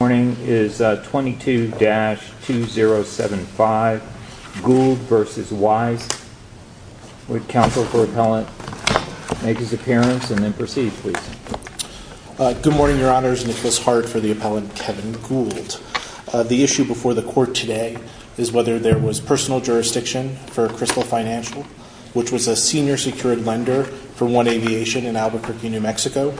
Good morning, your honors, Nicholas Hart for the appellant Kevin Gould. The issue before the court today is whether there was personal jurisdiction for Crystal Financial, which was a senior secured lender for One Aviation in Albuquerque, New Mexico.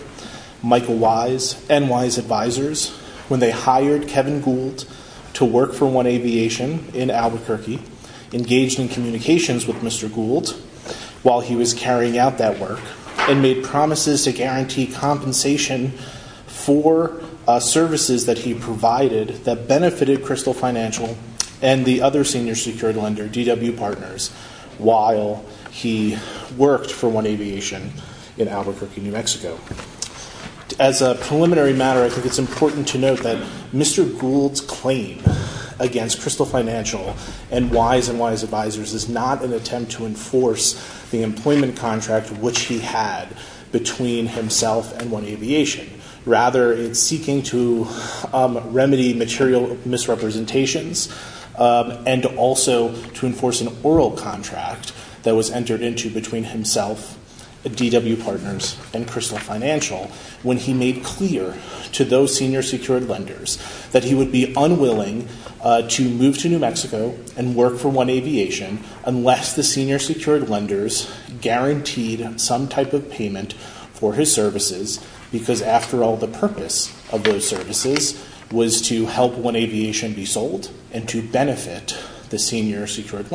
Michael Wyse and Wyse's advisors, when they hired Kevin Gould to work for One Aviation in Albuquerque, engaged in communications with Mr. Gould while he was carrying out that work and made promises to guarantee compensation for services that he provided that benefited Crystal Financial and the other senior secured lender, DW Partners, while he worked for One As a preliminary matter, I think it's important to note that Mr. Gould's claim against Crystal Financial and Wyse and Wyse's advisors is not an attempt to enforce the employment contract which he had between himself and One Aviation, rather it's seeking to remedy material misrepresentations and also to enforce an oral contract that was entered into between himself, DW Partners, and Crystal Financial when he made clear to those senior secured lenders that he would be unwilling to move to New Mexico and work for One Aviation unless the senior secured lenders guaranteed some type of payment for his services because after all the purpose of those services was to help One Aviation be sold and to benefit the senior Crystal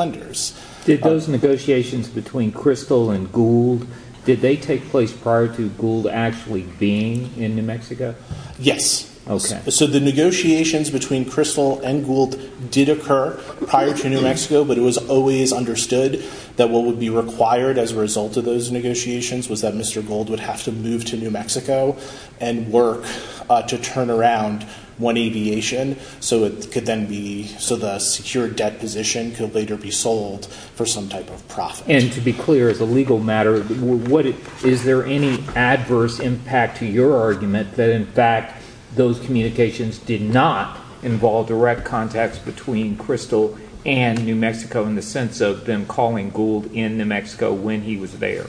and Gould, did they take place prior to Gould actually being in New Mexico? Yes. Okay. So the negotiations between Crystal and Gould did occur prior to New Mexico but it was always understood that what would be required as a result of those negotiations was that Mr. Gould would have to move to New Mexico and work to turn around One Aviation so it could then be, so the secured debt position could later be sold for some type of profit. And to be clear, as a legal matter, is there any adverse impact to your argument that in fact those communications did not involve direct contacts between Crystal and New Mexico in the sense of them calling Gould in New Mexico when he was there?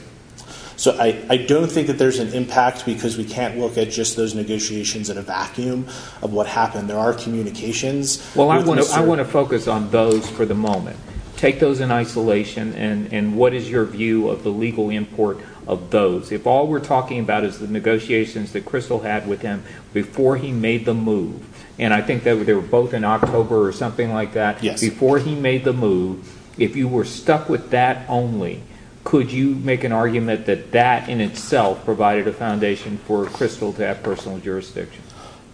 So I don't think that there's an impact because we can't look at just those negotiations in a vacuum of what happened. There are communications. Well, I want to focus on those for the moment. Take those in isolation and what is your view of the legal import of those? If all we're talking about is the negotiations that Crystal had with him before he made the move, and I think they were both in October or something like that, before he made the move, if you were stuck with that only, could you make an argument that that in itself provided a foundation for Crystal to have personal jurisdiction?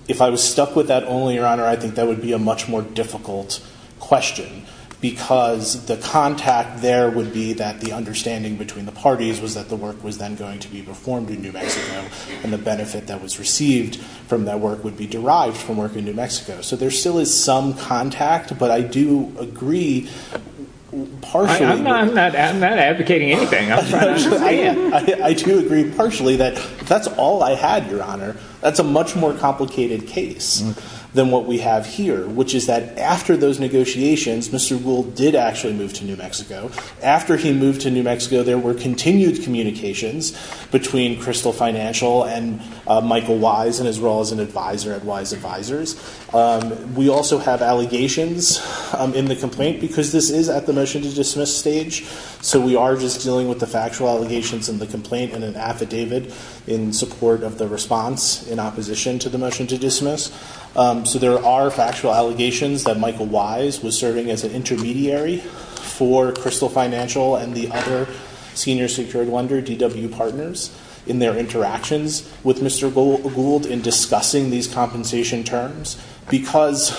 If I was stuck with that only, Your Honor, I think that would be a much more difficult question because the contact there would be that the understanding between the parties was that the work was then going to be performed in New Mexico and the benefit that was received from that work would be derived from work in New Mexico. So there still is some contact, but I do agree partially. I'm not advocating anything. I do agree partially that if that's all I had, Your Honor, that's a much more complicated case than what we have here, which is that after those negotiations, Mr. Rule did actually move to New Mexico. After he moved to New Mexico, there were continued communications between Crystal Financial and Michael Wise and as well as an advisor at Wise Advisors. We also have allegations in the complaint because this is at the motion to dismiss stage, so we are just dealing with the factual allegations in the complaint and an affidavit in support of the response in opposition to the motion to dismiss. So there are factual allegations that Michael Wise was serving as an intermediary for Crystal Financial and the other senior secured lender, DW Partners, in their interactions with Mr. Gould in discussing these compensation terms because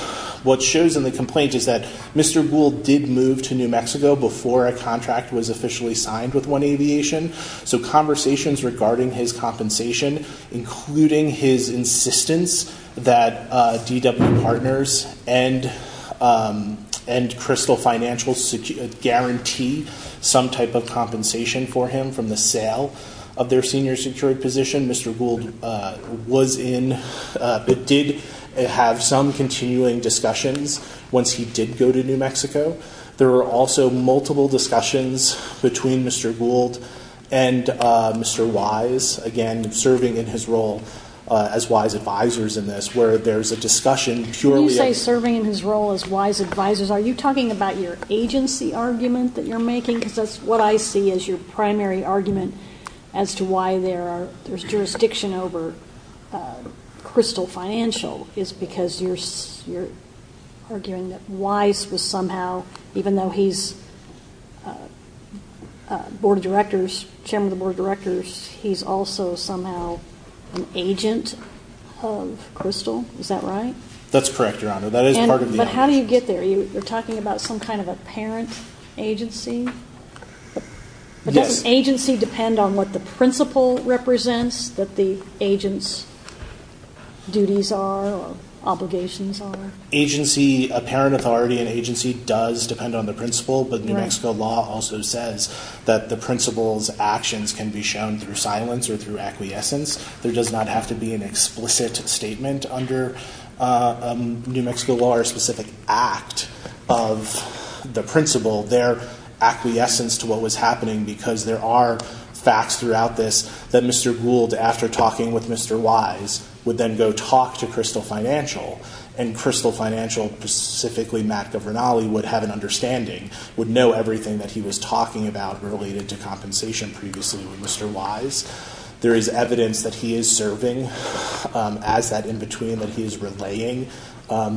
what shows in the complaint is that Mr. Gould did move to New Mexico before a contract was officially signed with One Aviation, so conversations regarding his compensation, including his insistence that DW Partners and Crystal Financial guarantee some type of compensation for him from the sale of their senior secured position, Mr. Gould was in, but did have some continuing discussions once he did go to New Mexico. There were also multiple discussions between Mr. Gould and Mr. Wise, again, serving in his role as Wise Advisors in this, where there's a discussion purely of- When you say serving in his role as Wise Advisors, are you talking about your agency argument that you're making? Because that's what I see as your primary argument as to why there's jurisdiction over Crystal Financial is because you're arguing that Wise was somehow involved even though he's Board of Directors, Chairman of the Board of Directors, he's also somehow an agent of Crystal. Is that right? That's correct, Your Honor. That is part of the argument. But how do you get there? You're talking about some kind of a parent agency? Yes. But doesn't agency depend on what the principle represents that the agent's duties are or obligations are? A parent authority and agency does depend on the principle, but New Mexico law also says that the principle's actions can be shown through silence or through acquiescence. There does not have to be an explicit statement under New Mexico law or a specific act of the principle. They're acquiescence to what was happening because there are facts throughout this that Mr. Gould, after talking with Mr. Wise, would then go talk to Crystal Financial and Crystal Financial, specifically Matt Governale, would have an understanding, would know everything that he was talking about related to compensation previously with Mr. Wise. There is evidence that he is serving as that in-between, that he is relaying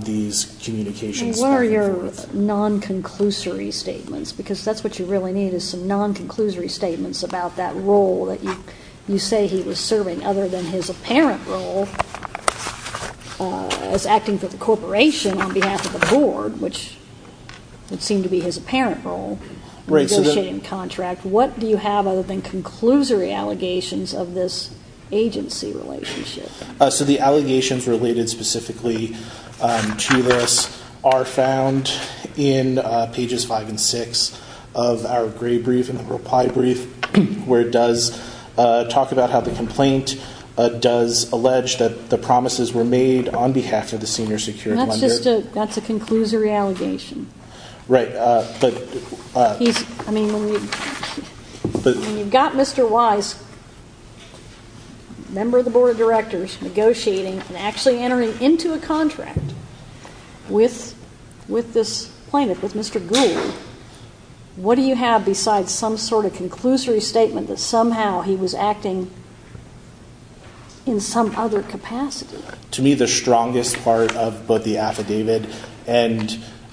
these communications. What are your non-conclusory statements? Because that's what you really need is some non-conclusory statements about that role that you say he was serving other than his apparent role as acting for the corporation on behalf of the board, which would seem to be his apparent role in negotiating the contract. What do you have other than conclusory allegations of this agency relationship? The allegations related specifically to this are found in pages 5 and 6 of our gray brief in the reply brief where it does talk about how the complaint does allege that the promises were made on behalf of the senior security. That's a conclusory allegation. Right. When you've got Mr. Wise, member of the board of directors, negotiating and actually entering into a contract with this plaintiff, with Mr. Gould, what do you have besides some sort of conclusory statement that somehow he was acting in some other capacity? To me, the strongest part of both the affidavit and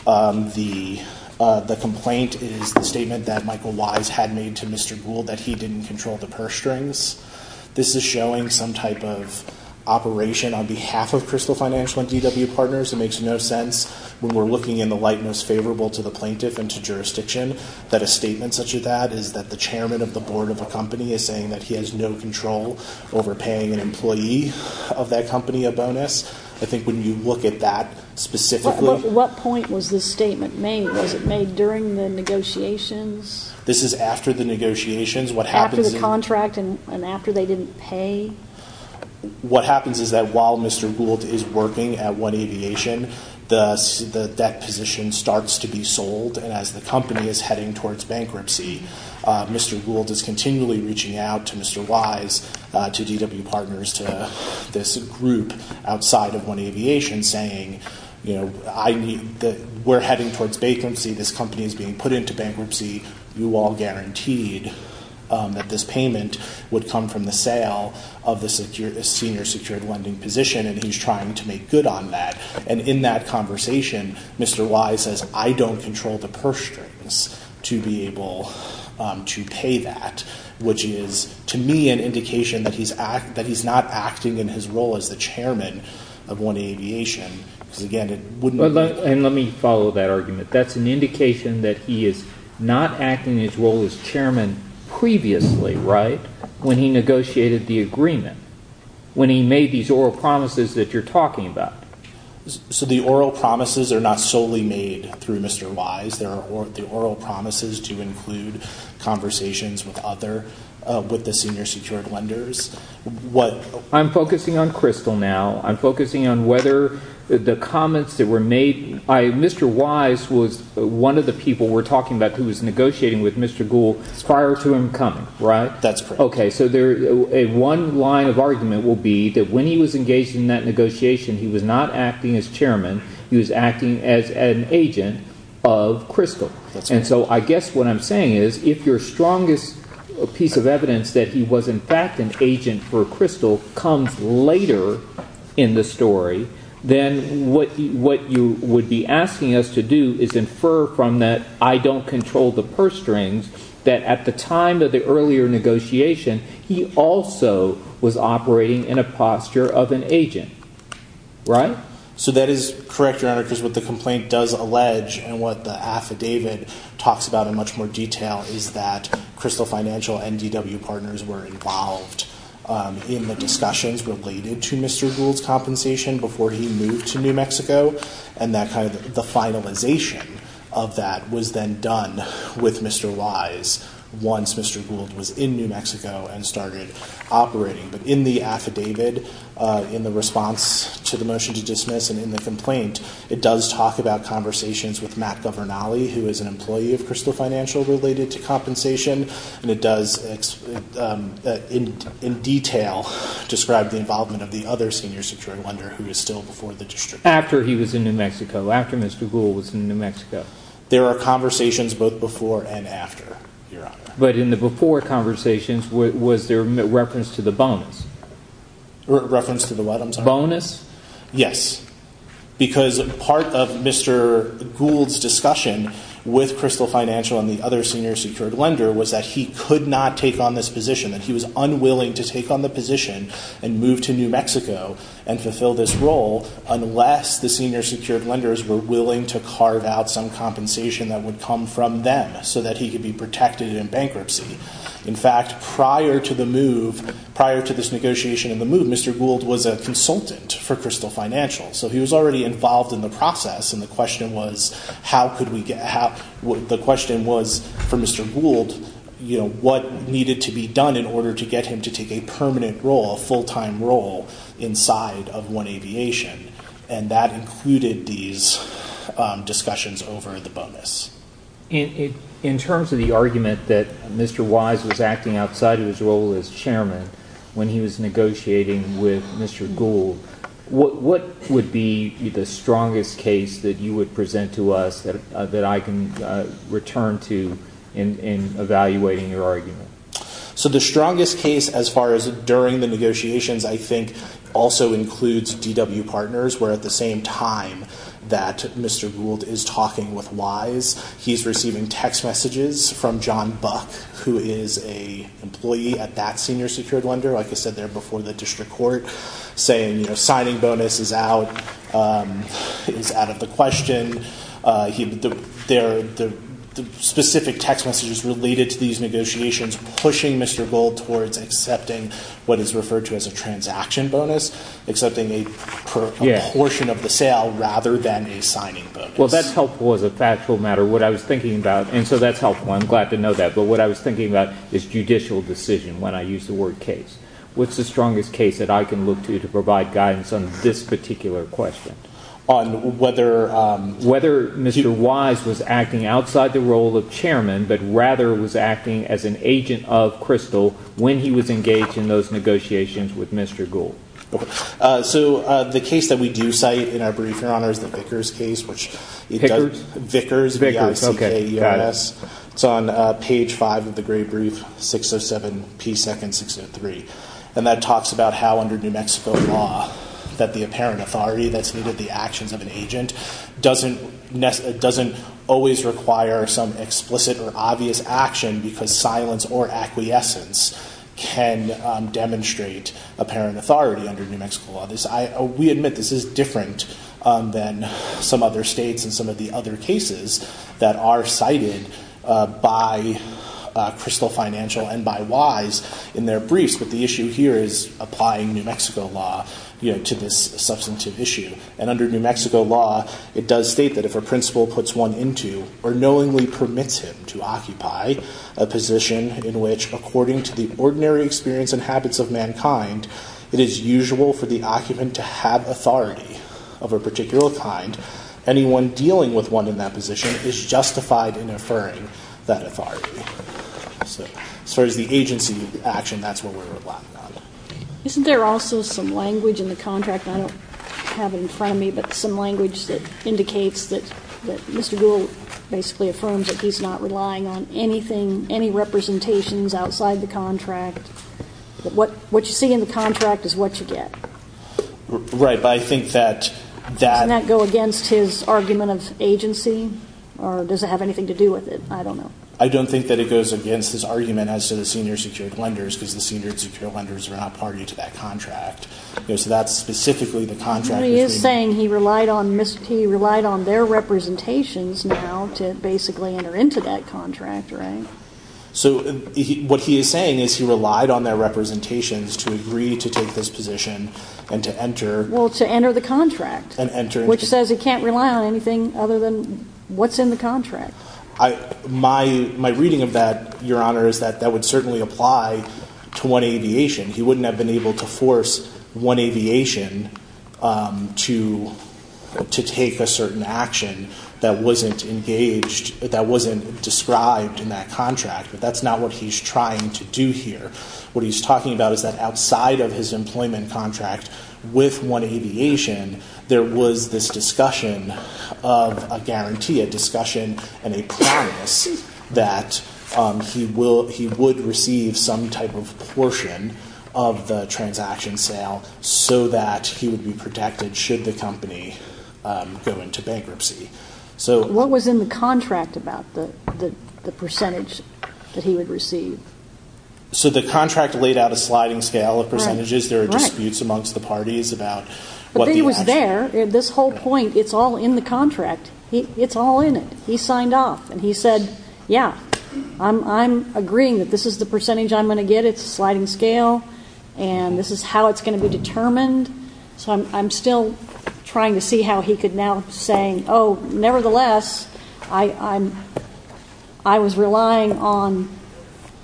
the complaint is the statement that Michael Wise had made to Mr. Gould that he didn't control the purse strings. This is showing some type of operation on behalf of Crystal Financial and DW Partners. It makes no sense when we're looking in the light most favorable to the plaintiff and to jurisdiction that a statement such as that is that the chairman of the board of a company is saying that he has no control over paying an employee of that company a bonus. I think when you look at that specifically... What point was this statement made? Was it made during the negotiations? This is after the negotiations. What happens... After the contract and after they didn't pay? What happens is that while Mr. Gould is working at One Aviation, the debt position starts to be sold. As the company is heading towards bankruptcy, Mr. Gould is continually reaching out to Mr. Wise, to DW Partners, to this group outside of One Aviation saying, we're heading towards bankruptcy. This company is being put into bankruptcy. You all guaranteed that this payment would come from the sale of the senior secured lending position. He's trying to make good on that. In that conversation, Mr. Wise says, I don't control the purse strings to be able to pay that, which is, to me, an indication that he's not acting in his role as the chairman of One Aviation because, again, it wouldn't... Let me follow that argument. That's an indication that he is not acting in his role as chairman previously when he negotiated the agreement, when he made these oral promises that you're talking about. The oral promises are not solely made through Mr. Wise. The oral promises do include conversations with other, with the senior secured lenders. I'm focusing on Crystal now. I'm focusing on whether the comments that were made... Mr. Wise was one of the people we're talking about who was negotiating with Mr. Gould prior to him coming, right? That's correct. One line of argument will be that when he was engaged in that negotiation, he was not acting as chairman. He was acting as an agent of Crystal. I guess what I'm saying is, if your strongest piece of evidence that he was, in fact, an agent for Crystal comes later in the story, then what you would be asking us to do is infer from that, I don't control the purse strings, that at the time of the earlier negotiation, he also was operating in a posture of an agent, right? So that is correct, Your Honor, because what the complaint does allege and what the affidavit talks about in much more detail is that Crystal Financial and DW Partners were involved in the discussions related to Mr. Gould's compensation before he moved to New Mexico. And the finalization of that was then done with Mr. Wise once Mr. Gould was in New Mexico and started operating. In the affidavit, in the response to the motion to dismiss, and in the complaint, it does talk about conversations with Matt Governale, who is an employee of Crystal Financial, related to compensation. And it does, in detail, describe the involvement of the other senior security lender who is still before the district. After he was in New Mexico, after Mr. Gould was in New Mexico. There are conversations both before and after, Your Honor. But in the before conversations, was there reference to the bonus? Reference to the what, I'm sorry? Bonus? Yes. Because part of Mr. Gould's discussion with Crystal Financial and the other senior security lender was that he could not take on this position, that he was unwilling to Yes, the senior security lenders were willing to carve out some compensation that would come from them so that he could be protected in bankruptcy. In fact, prior to the move, prior to this negotiation and the move, Mr. Gould was a consultant for Crystal Financial. So he was already involved in the process. And the question was, how could we get, the question was, for Mr. Gould, you know, what needed to be done in order to get him to take a permanent role, a full-time role inside of One Aviation. And that included these discussions over the bonus. In terms of the argument that Mr. Wise was acting outside of his role as chairman when he was negotiating with Mr. Gould, what would be the strongest case that you would present to us that I can return to in evaluating your argument? So the strongest case as far as during the negotiations, I think, also includes DW Partners, where at the same time that Mr. Gould is talking with Wise, he's receiving text messages from John Buck, who is an employee at that senior security lender, like I said there before the district court, saying, you know, signing bonus is out, is out of the question. The specific text messages related to these negotiations pushing Mr. Gould towards accepting what is referred to as a transaction bonus, accepting a portion of the sale rather than a signing bonus. Well, that's helpful as a factual matter. What I was thinking about, and so that's helpful, I'm glad to know that, but what I was thinking about is judicial decision when I use the word case. What's the strongest case that I can look to to provide guidance on this particular question? On whether... Whether Mr. Wise was acting outside the role of chairman, but rather was acting as an agent of Crystal when he was engaged in those negotiations with Mr. Gould. So the case that we do cite in our brief, Your Honor, is the Vickers case, which... Vickers, V-I-C-K-E-R-S. Okay, got it. It's on page five of the Gray Brief, 607p2603, and that talks about how under New Mexico law, that the apparent authority that's needed, the actions of an agent, doesn't always require some explicit or obvious action because silence or acquiescence can demonstrate apparent authority under New Mexico law. This... We admit this is different than some other states and some of the other cases that are cited by Crystal Financial and by Wise in their briefs, but the issue here is applying New Mexico law, you know, to this substantive issue. And under New Mexico law, it does state that if a principal puts one into or knowingly permits him to occupy a position in which, according to the ordinary experience and habits of mankind, it is usual for the occupant to have authority of a particular kind, anyone dealing with one in that position is justified in affirming that authority. So as far as the agency action, that's what we're relying on. Isn't there also some language in the contract, I don't have it in front of me, but some language that indicates that Mr. Gould basically affirms that he's not relying on anything, any representations outside the contract, that what you see in the contract is what you get? Right, but I think that... Doesn't that go against his argument of agency or does it have anything to do with it? I don't know. I don't think that it goes against his argument as to the senior secured lenders because the senior secured lenders are not party to that contract. So that's specifically the contract that's being... But he is saying he relied on their representations now to basically enter into that contract, right? So what he is saying is he relied on their representations to agree to take this position and to enter... Well, to enter the contract, which says he can't rely on anything other than what's in the contract. My reading of that, Your Honor, is that that would certainly apply to one aviation. He wouldn't have been able to force one aviation to take a certain action that wasn't engaged, that wasn't described in that contract, but that's not what he's trying to do here. What he's talking about is that outside of his employment contract with one aviation, there was this discussion of a guarantee, a discussion and a promise that he would receive some type of portion of the transaction sale so that he would be protected should the company go into bankruptcy. So... What was in the contract about the percentage that he would receive? So the contract laid out a sliding scale of percentages. There are disputes amongst the parties about what the actual... But he was there. At this whole point, it's all in the contract. It's all in it. He signed off. And he said, yeah, I'm agreeing that this is the percentage I'm going to get. It's a sliding scale. And this is how it's going to be determined. So I'm still trying to see how he could now say, oh, nevertheless, I was relying on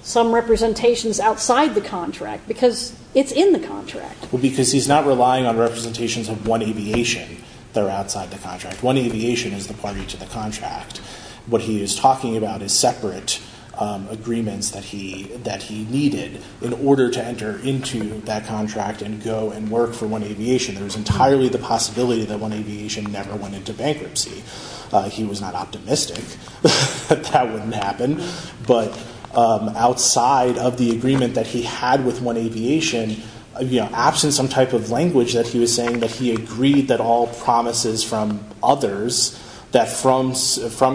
some representations outside the contract because it's in the contract. Because he's not relying on representations of one aviation that are outside the contract. One aviation is the party to the contract. What he is talking about is separate agreements that he needed in order to enter into that contract and go and work for one aviation. There's entirely the possibility that one aviation never went into bankruptcy. He was not optimistic that that wouldn't happen. But outside of the agreement that he had with one aviation, absent some type of language that he was saying that he agreed that all promises from others, that from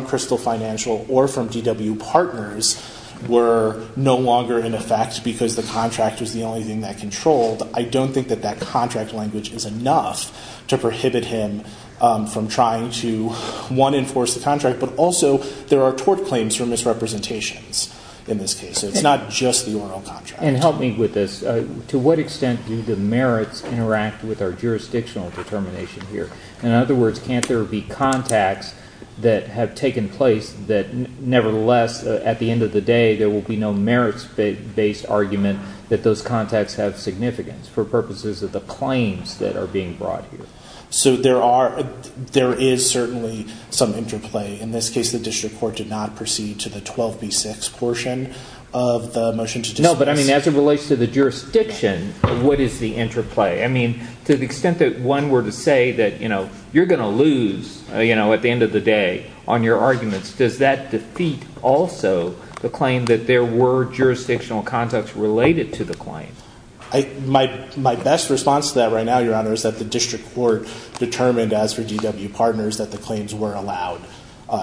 Crystal Financial or from DW Partners were no longer in effect because the contract was the only thing that controlled, I don't think that that contract language is enough to prohibit him from trying to, one, enforce the contract, but also there are tort claims for misrepresentations in this case. It's not just the oral contract. And help me with this, to what extent do the merits interact with our jurisdictional determination here? In other words, can't there be contacts that have taken place that nevertheless, at the end of the day, there will be no merits-based argument that those contacts have significance for purposes of the claims that are being brought here? So there are, there is certainly some interplay. In this case, the district court did not proceed to the 12B6 portion of the motion to dismiss. No, but I mean, as it relates to the jurisdiction, what is the interplay? I mean, to the extent that one were to say that, you know, you're going to lose, you know, at the end of the day on your arguments, does that defeat also the claim that there were jurisdictional contacts related to the claim? My best response to that right now, Your Honor, is that the district court determined, as for DW Partners, that the claims were allowed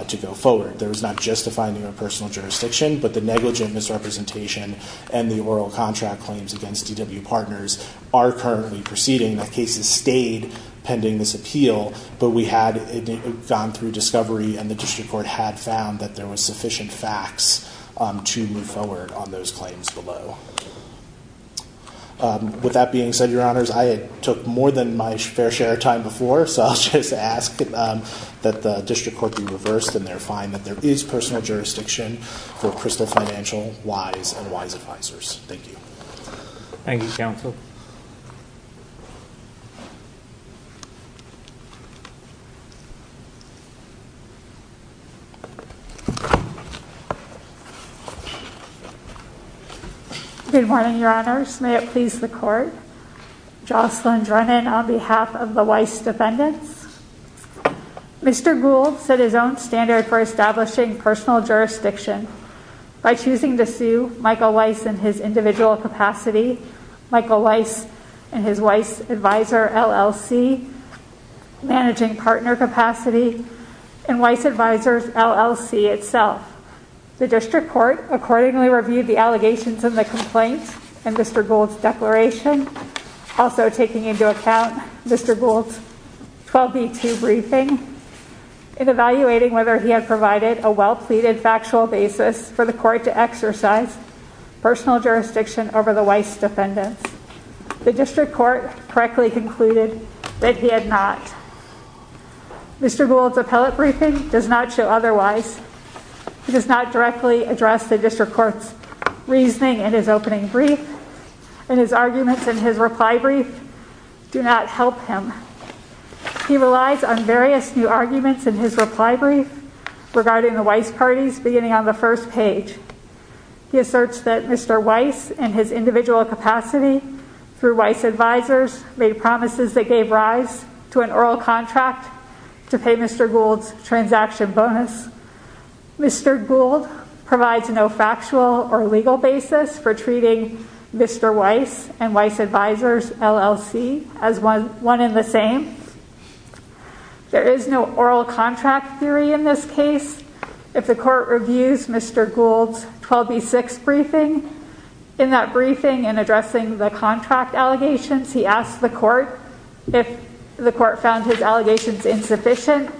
to go forward. There was not just a finding of personal jurisdiction, but the negligent misrepresentation and the oral contract claims against DW Partners are currently proceeding. The cases stayed pending this appeal, but we had gone through discovery and the district court had found that there was sufficient facts to move forward on those claims below. With that being said, Your Honors, I took more than my fair share of time before, so I'll just ask that the district court be reversed in their finding that there is personal jurisdiction for Crystal Financial, Weiss, and Weiss Advisors. Thank you. Thank you, Counsel. Good morning, Your Honors. May it please the Court. Jocelyn Drennan on behalf of the Weiss Defendants. Mr. Gould set his own standard for establishing personal jurisdiction by choosing to sue Michael Weiss in his individual capacity, Michael Weiss and his Weiss Advisor, LLC, managing partner capacity, and Weiss Advisors, LLC itself. The district court accordingly reviewed the allegations in the complaint and Mr. Gould's 12B2 briefing in evaluating whether he had provided a well-pleaded factual basis for the court to exercise personal jurisdiction over the Weiss Defendants. The district court correctly concluded that he had not. Mr. Gould's appellate briefing does not show otherwise. He does not directly address the district court's reasoning in his opening brief and his arguments in his reply brief do not help him. He relies on various new arguments in his reply brief regarding the Weiss parties beginning on the first page. He asserts that Mr. Weiss, in his individual capacity through Weiss Advisors, made promises that gave rise to an oral contract to pay Mr. Gould's transaction bonus. Mr. Gould provides no factual or legal basis for treating Mr. Weiss and Weiss Advisors, LLC, as one in the same. There is no oral contract theory in this case. If the court reviews Mr. Gould's 12B6 briefing, in that briefing in addressing the contract allegations, he asked the court if the court found his allegations insufficient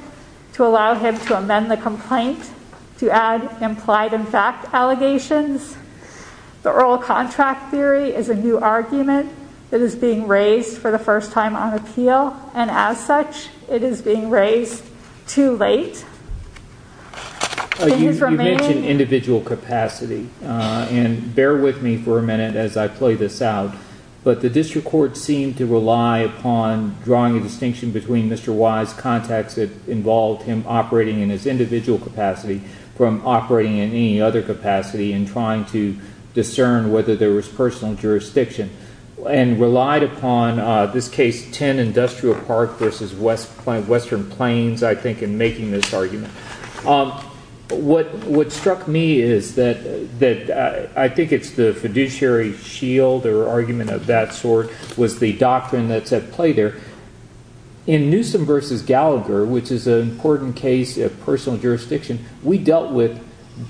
to allow him to amend the complaint to add implied and fact allegations. The oral contract theory is a new argument that is being raised for the first time on appeal, and as such, it is being raised too late. In his remaining- You mentioned individual capacity, and bear with me for a minute as I play this out. But the district court seemed to rely upon drawing a distinction between Mr. Weiss contacts that involved him operating in his individual capacity from operating in any other capacity and trying to discern whether there was personal jurisdiction, and relied upon, in this case, 10 Industrial Park versus Western Plains, I think, in making this argument. What struck me is that I think it's the fiduciary shield or argument of that sort was the doctrine that's at play there. In Newsom versus Gallagher, which is an important case of personal jurisdiction, we dealt with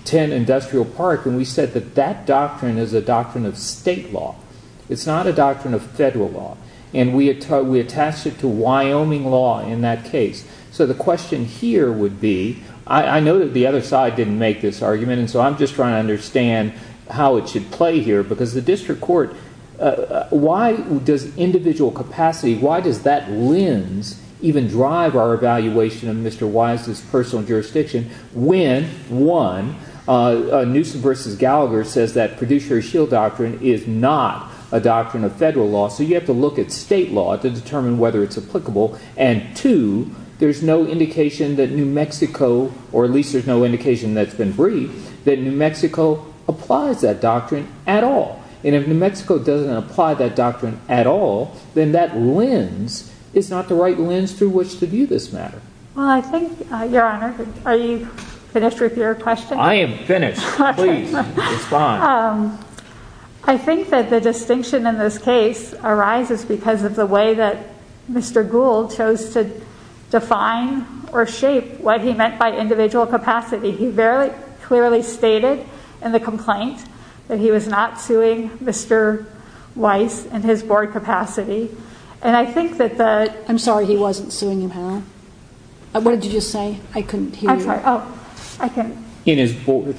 10 Industrial Park, and we said that that doctrine is a doctrine of state law. It's not a doctrine of federal law, and we attached it to Wyoming law in that case. So the question here would be, I know that the other side didn't make this argument, and so I'm just trying to understand how it should play here, because the district court, why does individual capacity, why does that lens even drive our evaluation of Mr. Weiss's personal jurisdiction when, one, Newsom versus Gallagher says that fiduciary shield doctrine is not a doctrine of federal law, so you have to look at state law to determine whether it's applicable, and two, there's no indication that New Mexico, or at least there's no indication that's been briefed, that New Mexico applies that doctrine at all. And if New Mexico doesn't apply that doctrine at all, then that lens is not the right lens through which to view this matter. Well, I think, Your Honor, are you finished with your question? I am finished. Please, respond. I think that the distinction in this case arises because of the way that Mr. Gould chose to define or shape what he meant by individual capacity. He very clearly stated in the complaint that he was not suing Mr. Weiss in his board capacity, and I think that the... I'm sorry, he wasn't suing him, Helen? What did you just say? I couldn't hear you. I'm sorry. Oh, I can... In his board.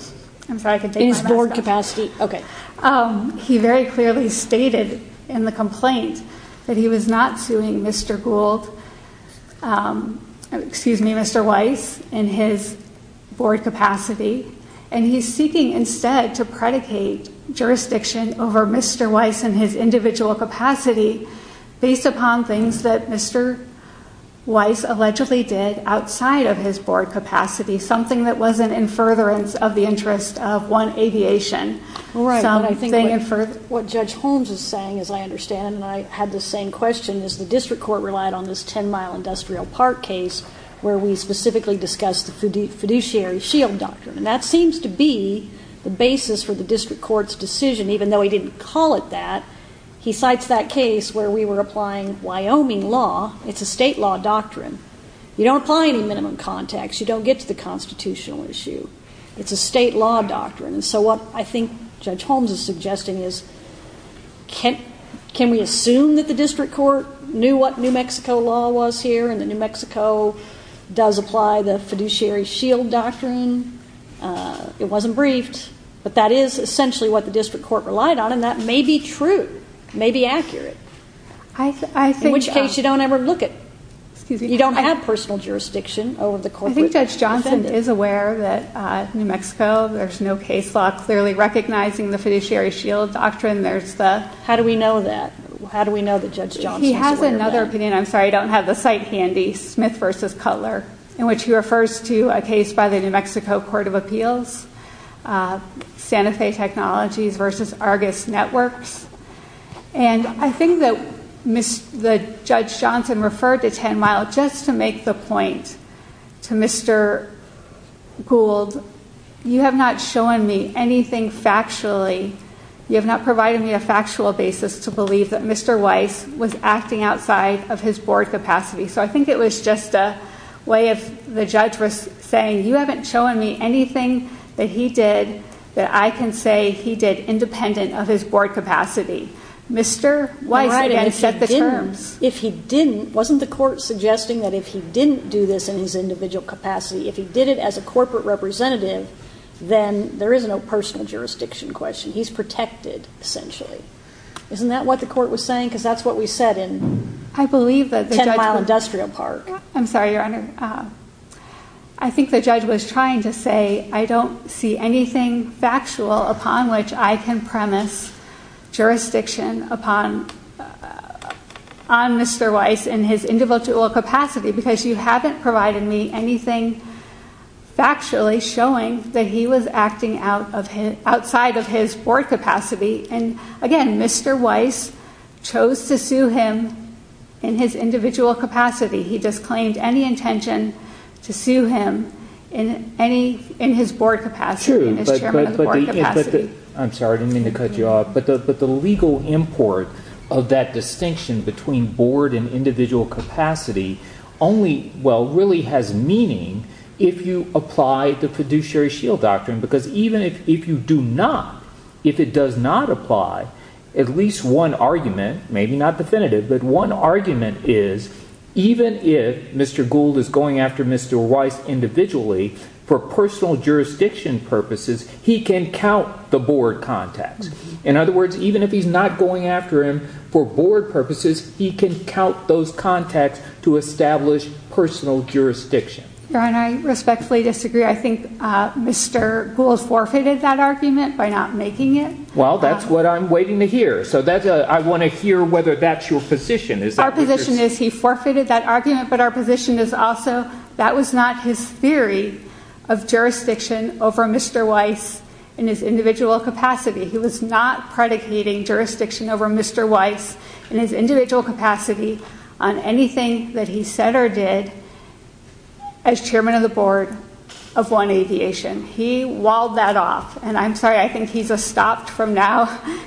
I'm sorry, I can take my mask off. In his board capacity. Okay. He very clearly stated in the complaint that he was not suing Mr. Gould, excuse me, Mr. Weiss in his board capacity, and he's seeking instead to predicate jurisdiction over Mr. Weiss and his individual capacity based upon things that Mr. Weiss allegedly did outside of his board capacity, something that wasn't in furtherance of the interest of one aviation. All right, but I think what Judge Holmes is saying, as I understand, and I had the same question, is the district court relied on this 10-mile industrial park case where we specifically discussed the fiduciary shield doctrine, and that seems to be the basis for the district court's decision, even though he didn't call it that. He cites that case where we were applying Wyoming law. It's a state law doctrine. You don't apply any minimum context. You don't get to the constitutional issue. It's a state law doctrine, and so what I think Judge Holmes is suggesting is can we assume that the district court knew what New Mexico law was here and that New Mexico does apply the fiduciary shield doctrine? It wasn't briefed, but that is essentially what the district court relied on, and that may be true. It may be accurate, in which case you don't ever look at it. You don't have personal jurisdiction over the court. I think Judge Johnson is aware that New Mexico, there's no case law clearly recognizing the fiduciary shield doctrine. How do we know that? How do we know that Judge Johnson is aware of that? He has another opinion. I'm sorry. I don't have the site handy. Smith v. Cutler, in which he refers to a case by the New Mexico Court of Appeals, Santa Fe Technologies v. Argus Networks, and I think that Judge Johnson referred to Ten Mile just to make the point to Mr. Gould, you have not shown me anything factually. You have not provided me a factual basis to believe that Mr. Weiss was acting outside of his board capacity. So I think it was just a way of the judge was saying, you haven't shown me anything that he did that I can say he did independent of his board capacity. Mr. Weiss, again, set the terms. If he didn't, wasn't the court suggesting that if he didn't do this in his individual capacity, if he did it as a corporate representative, then there is no personal jurisdiction question. He's protected, essentially. Isn't that what the court was saying? Because that's what we said in Ten Mile Industrial Park. I'm sorry, Your Honor. I think the judge was trying to say, I don't see anything factual upon which I can premise jurisdiction upon Mr. Weiss in his individual capacity because you haven't provided me anything factually showing that he was acting outside of his board capacity. And again, Mr. Weiss chose to sue him in his individual capacity. He disclaimed any intention to sue him in his board capacity, in his chairman of the board capacity. True. I'm sorry. I didn't mean to cut you off. But the legal import of that distinction between board and individual capacity only really has meaning if you apply the fiduciary shield doctrine because even if you do not, if it does not apply, at least one argument, maybe not definitive, but one argument is even if Mr. Gould is going after Mr. Weiss individually for personal jurisdiction purposes, he can count the board contacts. In other words, even if he's not going after him for board purposes, he can count those contacts to establish personal jurisdiction. Your Honor, I respectfully disagree. I think Mr. Gould forfeited that argument by not making it. Well, that's what I'm waiting to hear. So I want to hear whether that's your position. Our position is he forfeited that argument, but our position is also that was not his theory of jurisdiction over Mr. Weiss in his individual capacity. He was not predicating jurisdiction over Mr. Weiss in his individual capacity on anything that he said or did as chairman of the board of One Aviation. He walled that off. And I'm sorry. I think he's stopped from now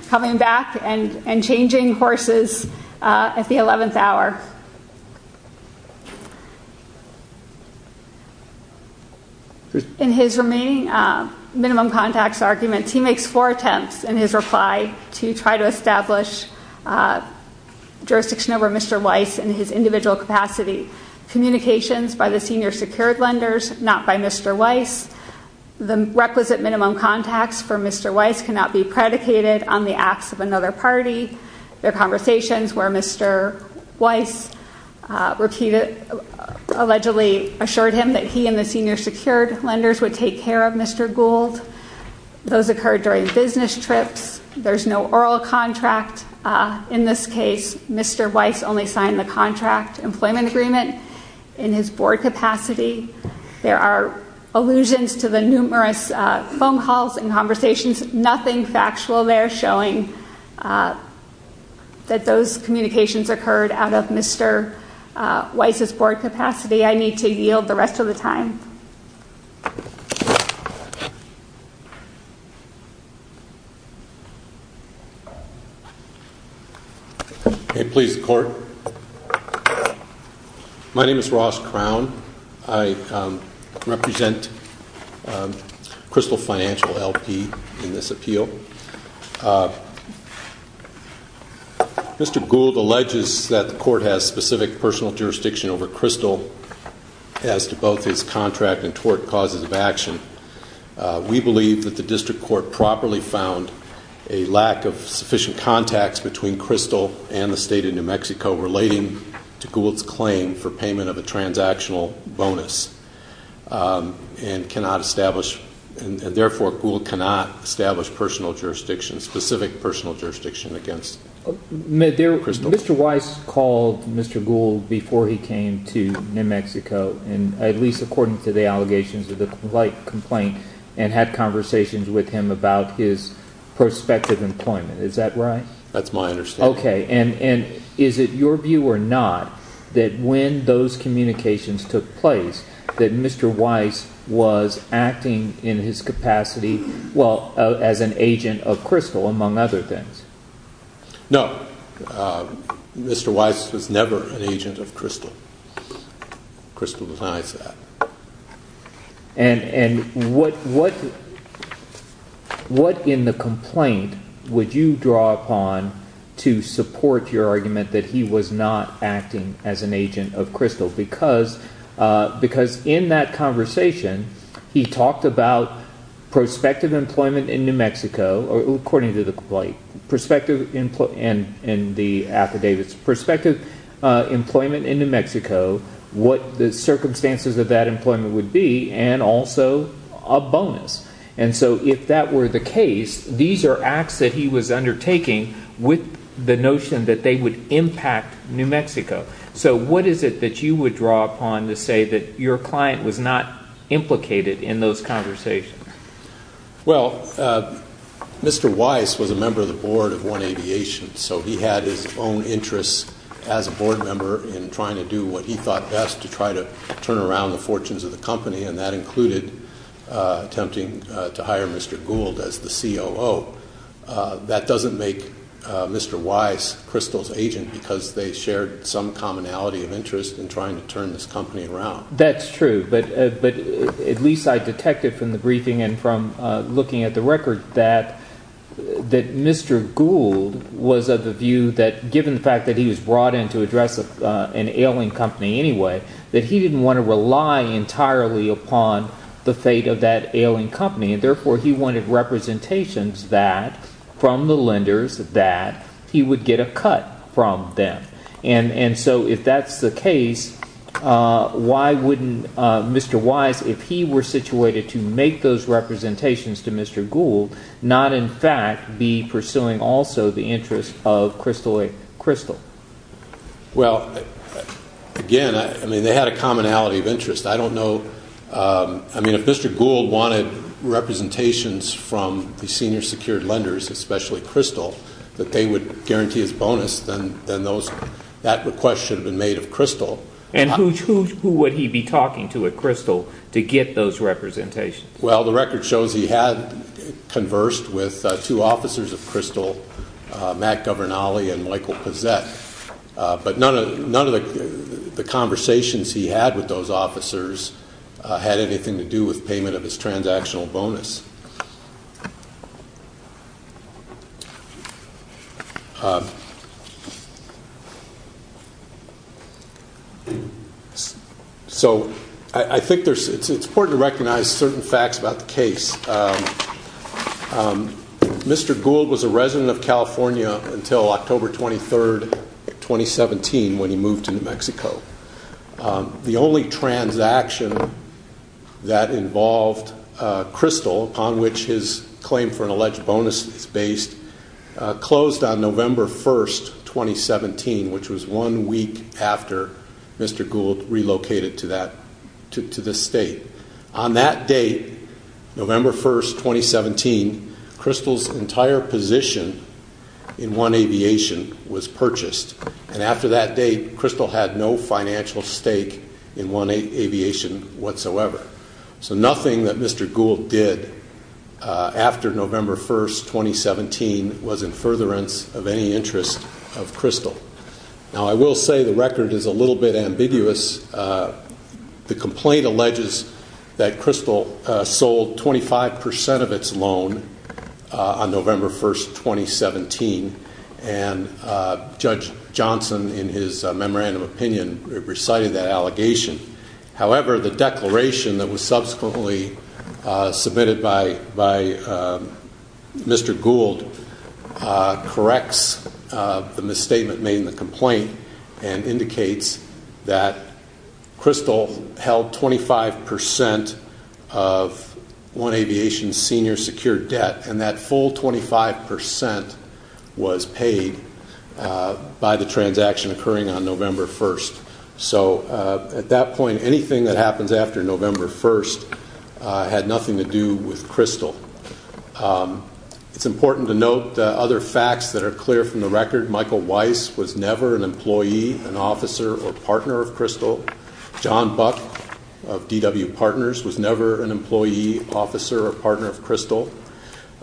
coming back and changing horses at the 11th hour. In his remaining minimum contacts arguments, he makes four attempts in his reply to try to establish jurisdiction over Mr. Weiss in his individual capacity. Communications by the senior secured lenders, not by Mr. Weiss. The requisite minimum contacts for Mr. Weiss cannot be predicated on the acts of another party. There are conversations where Mr. Weiss repeatedly, allegedly assured him that he and the senior secured lenders would take care of Mr. Gould. Those occurred during business trips. There's no oral contract. In this case, Mr. Weiss only signed the contract employment agreement in his board capacity. There are allusions to the numerous phone calls and conversations, nothing factual there showing that those communications occurred out of Mr. Weiss' board capacity. I need to yield the rest of the time. Okay, please, the court. My name is Ross Crown. I represent Crystal Financial LP in this appeal. Mr. Gould alleges that the court has specific personal jurisdiction over Crystal as to both his contract and tort causes of action. We believe that the district court properly found a lack of sufficient contacts between personal bonus and cannot establish, and therefore Gould cannot establish personal jurisdiction, specific personal jurisdiction against Crystal. Mr. Weiss called Mr. Gould before he came to New Mexico, at least according to the allegations of the complaint, and had conversations with him about his prospective employment. Is that right? That's my understanding. Okay. And is it your view or not that when those communications took place that Mr. Weiss was acting in his capacity, well, as an agent of Crystal, among other things? No, Mr. Weiss was never an agent of Crystal. Crystal denies that. And what in the complaint would you draw upon to support your argument that he was not acting as an agent of Crystal? Because in that conversation, he talked about prospective employment in New Mexico, or according to the complaint, prospective employment in the affidavits, prospective employment in that employment would be, and also a bonus. And so if that were the case, these are acts that he was undertaking with the notion that they would impact New Mexico. So what is it that you would draw upon to say that your client was not implicated in those conversations? Well, Mr. Weiss was a member of the board of One Aviation, so he had his own interests as a board member in trying to do what he thought best to try to turn around the fortunes of the company, and that included attempting to hire Mr. Gould as the COO. That doesn't make Mr. Weiss Crystal's agent because they shared some commonality of interest in trying to turn this company around. That's true. But at least I detected from the briefing and from looking at the record that Mr. Gould was of the view that given the fact that he was brought in to address an ailing company anyway, that he didn't want to rely entirely upon the fate of that ailing company, and therefore he wanted representations that, from the lenders, that he would get a cut from them. And so if that's the case, why wouldn't Mr. Weiss, if he were situated to make those representations to Mr. Gould, not, in fact, be pursuing also the interests of Crystalloy Crystal? Well, again, I mean, they had a commonality of interest. I don't know. I mean, if Mr. Gould wanted representations from the senior secured lenders, especially Crystal, that they would guarantee as a bonus, then that request should have been made of Crystal. And who would he be talking to at Crystal to get those representations? Well, the record shows he had conversed with two officers of Crystal, Matt Governale and Michael Pizzet, but none of the conversations he had with those officers had anything to do with payment of his transactional bonus. So, I think there's, it's important to recognize certain facts about the case. Mr. Gould was a resident of California until October 23rd, 2017, when he moved to New Mexico. The only transaction that involved Crystal, upon which his claim for an alleged bonus is based, closed on November 1st, 2017, which was one week after Mr. Gould relocated to that, to the state. On that date, November 1st, 2017, Crystal's entire position in One Aviation was purchased. And after that date, Crystal had no financial stake in One Aviation whatsoever. So nothing that Mr. Gould did after November 1st, 2017, was in furtherance of any interest of Crystal. Now, I will say the record is a little bit ambiguous. The complaint alleges that Crystal sold 25% of its loan on November 1st, 2017. And Judge Johnson, in his memorandum of opinion, recited that allegation. However, the declaration that was subsequently submitted by Mr. Gould corrects the misstatement made in the complaint and indicates that Crystal held 25% of One Aviation's senior secure debt. And that full 25% was paid by the transaction occurring on November 1st. So at that point, anything that happens after November 1st had nothing to do with Crystal. It's important to note other facts that are clear from the record. Michael Weiss was never an employee, an officer, or partner of Crystal. John Buck of DW Partners was never an employee, officer, or partner of Crystal.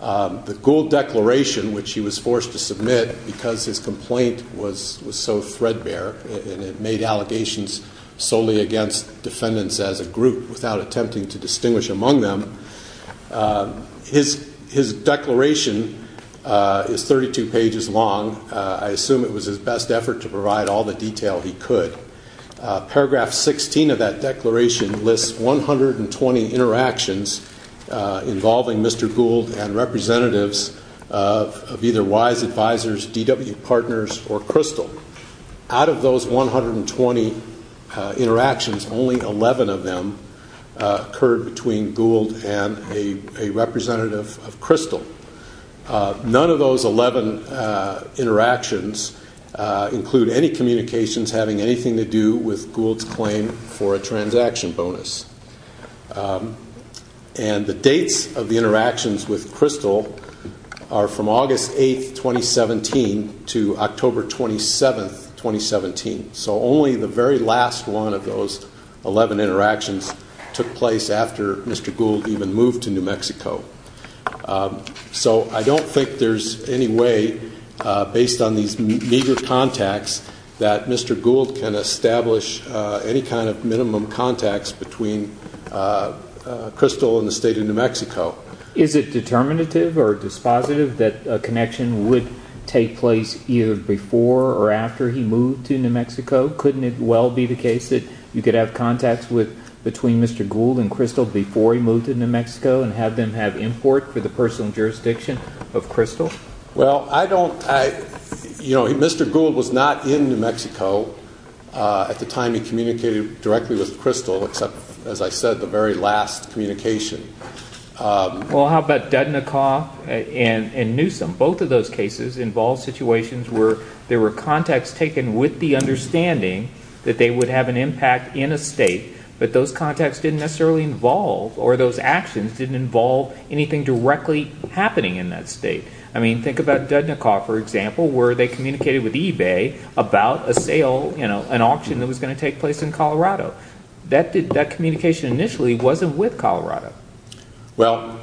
The Gould declaration, which he was forced to submit because his complaint was so threadbare and it made allegations solely against defendants as a group without attempting to distinguish among them, his declaration is 32 pages long. I assume it was his best effort to provide all the detail he could. Paragraph 16 of that declaration lists 120 interactions involving Mr. Gould and representatives of either Weiss, Advisors, DW Partners, or Crystal. Out of those 120 interactions, only 11 of them occurred between Gould and a representative of Crystal. None of those 11 interactions include any communications having anything to do with Gould's claim for a transaction bonus. And the dates of the interactions with Crystal are from August 8th, 2017 to October 27th, 2017. So only the very last one of those 11 interactions took place after Mr. Gould even moved to New Mexico. So I don't think there's any way, based on these meager contacts, that Mr. Gould can establish any kind of minimum contacts between Crystal and the state of New Mexico. Is it determinative or dispositive that a connection would take place either before or after he moved to New Mexico? Couldn't it well be the case that you could have contacts between Mr. Gould and Crystal before he moved to New Mexico and have them have import for the personal jurisdiction of Crystal? Well, I don't, you know, Mr. Gould was not in New Mexico at the time he communicated directly with Crystal, except, as I said, the very last communication. Well, how about Dudnikoff and Newsom? Both of those cases involved situations where there were contacts taken with the understanding that they would have an impact in a state, but those contacts didn't necessarily involve or those actions didn't involve anything directly happening in that state. I mean, think about Dudnikoff, for example, where they communicated with eBay about a sale, you know, an auction that was going to take place in Colorado. That communication initially wasn't with Colorado. Well,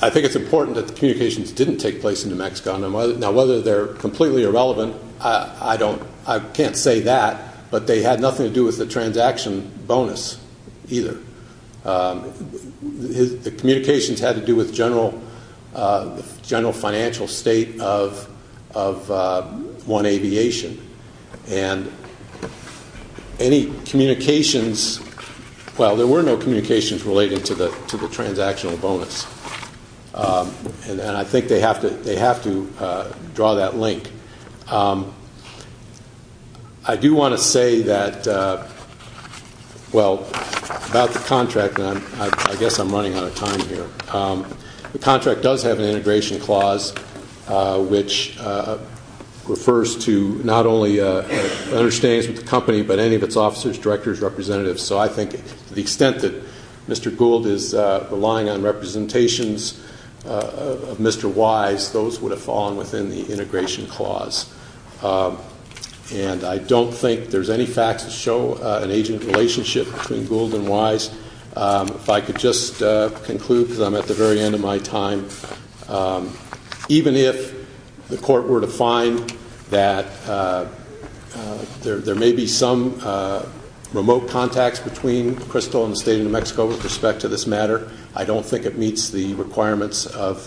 I think it's important that the communications didn't take place in New Mexico. Now, whether they're completely irrelevant, I don't, I can't say that, but they had nothing to do with the transaction bonus either. The communications had to do with general financial state of One Aviation, and any communications, well, there were no communications related to the transactional bonus, and I think they have to draw that link. I do want to say that, well, about the contract, and I guess I'm running out of time here. The contract does have an integration clause, which refers to not only understatings with the company, but any of its officers, directors, representatives. So I think to the extent that Mr. Gould is relying on representations of Mr. Wise, those would have fallen within the integration clause. And I don't think there's any facts to show an agent relationship between Gould and Wise. If I could just conclude, because I'm at the very end of my time, even if the court were to find that there may be some remote contacts between Crystal and the State of New Mexico with respect to this matter, I don't think it meets the requirements of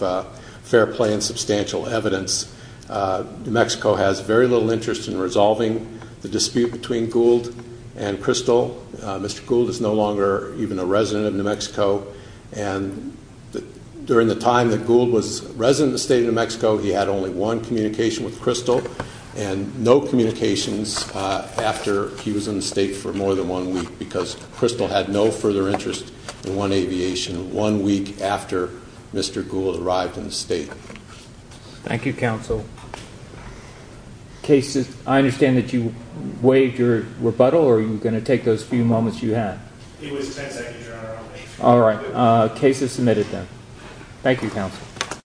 fair play and substantial evidence. New Mexico has very little interest in resolving the dispute between Gould and Crystal. Mr. Gould is no longer even a resident of New Mexico, and during the time that Gould was a resident of the State of New Mexico, he had only one communication with Crystal and no communications after he was in the State for more than one week, because Crystal had no further interest in one aviation one week after Mr. Gould arrived in the State. Thank you, counsel. Cases, I understand that you waived your rebuttal, or are you going to take those few moments you had? It was 10 seconds, Your Honor. All right. Cases submitted, then. Thank you, counsel. Thank you.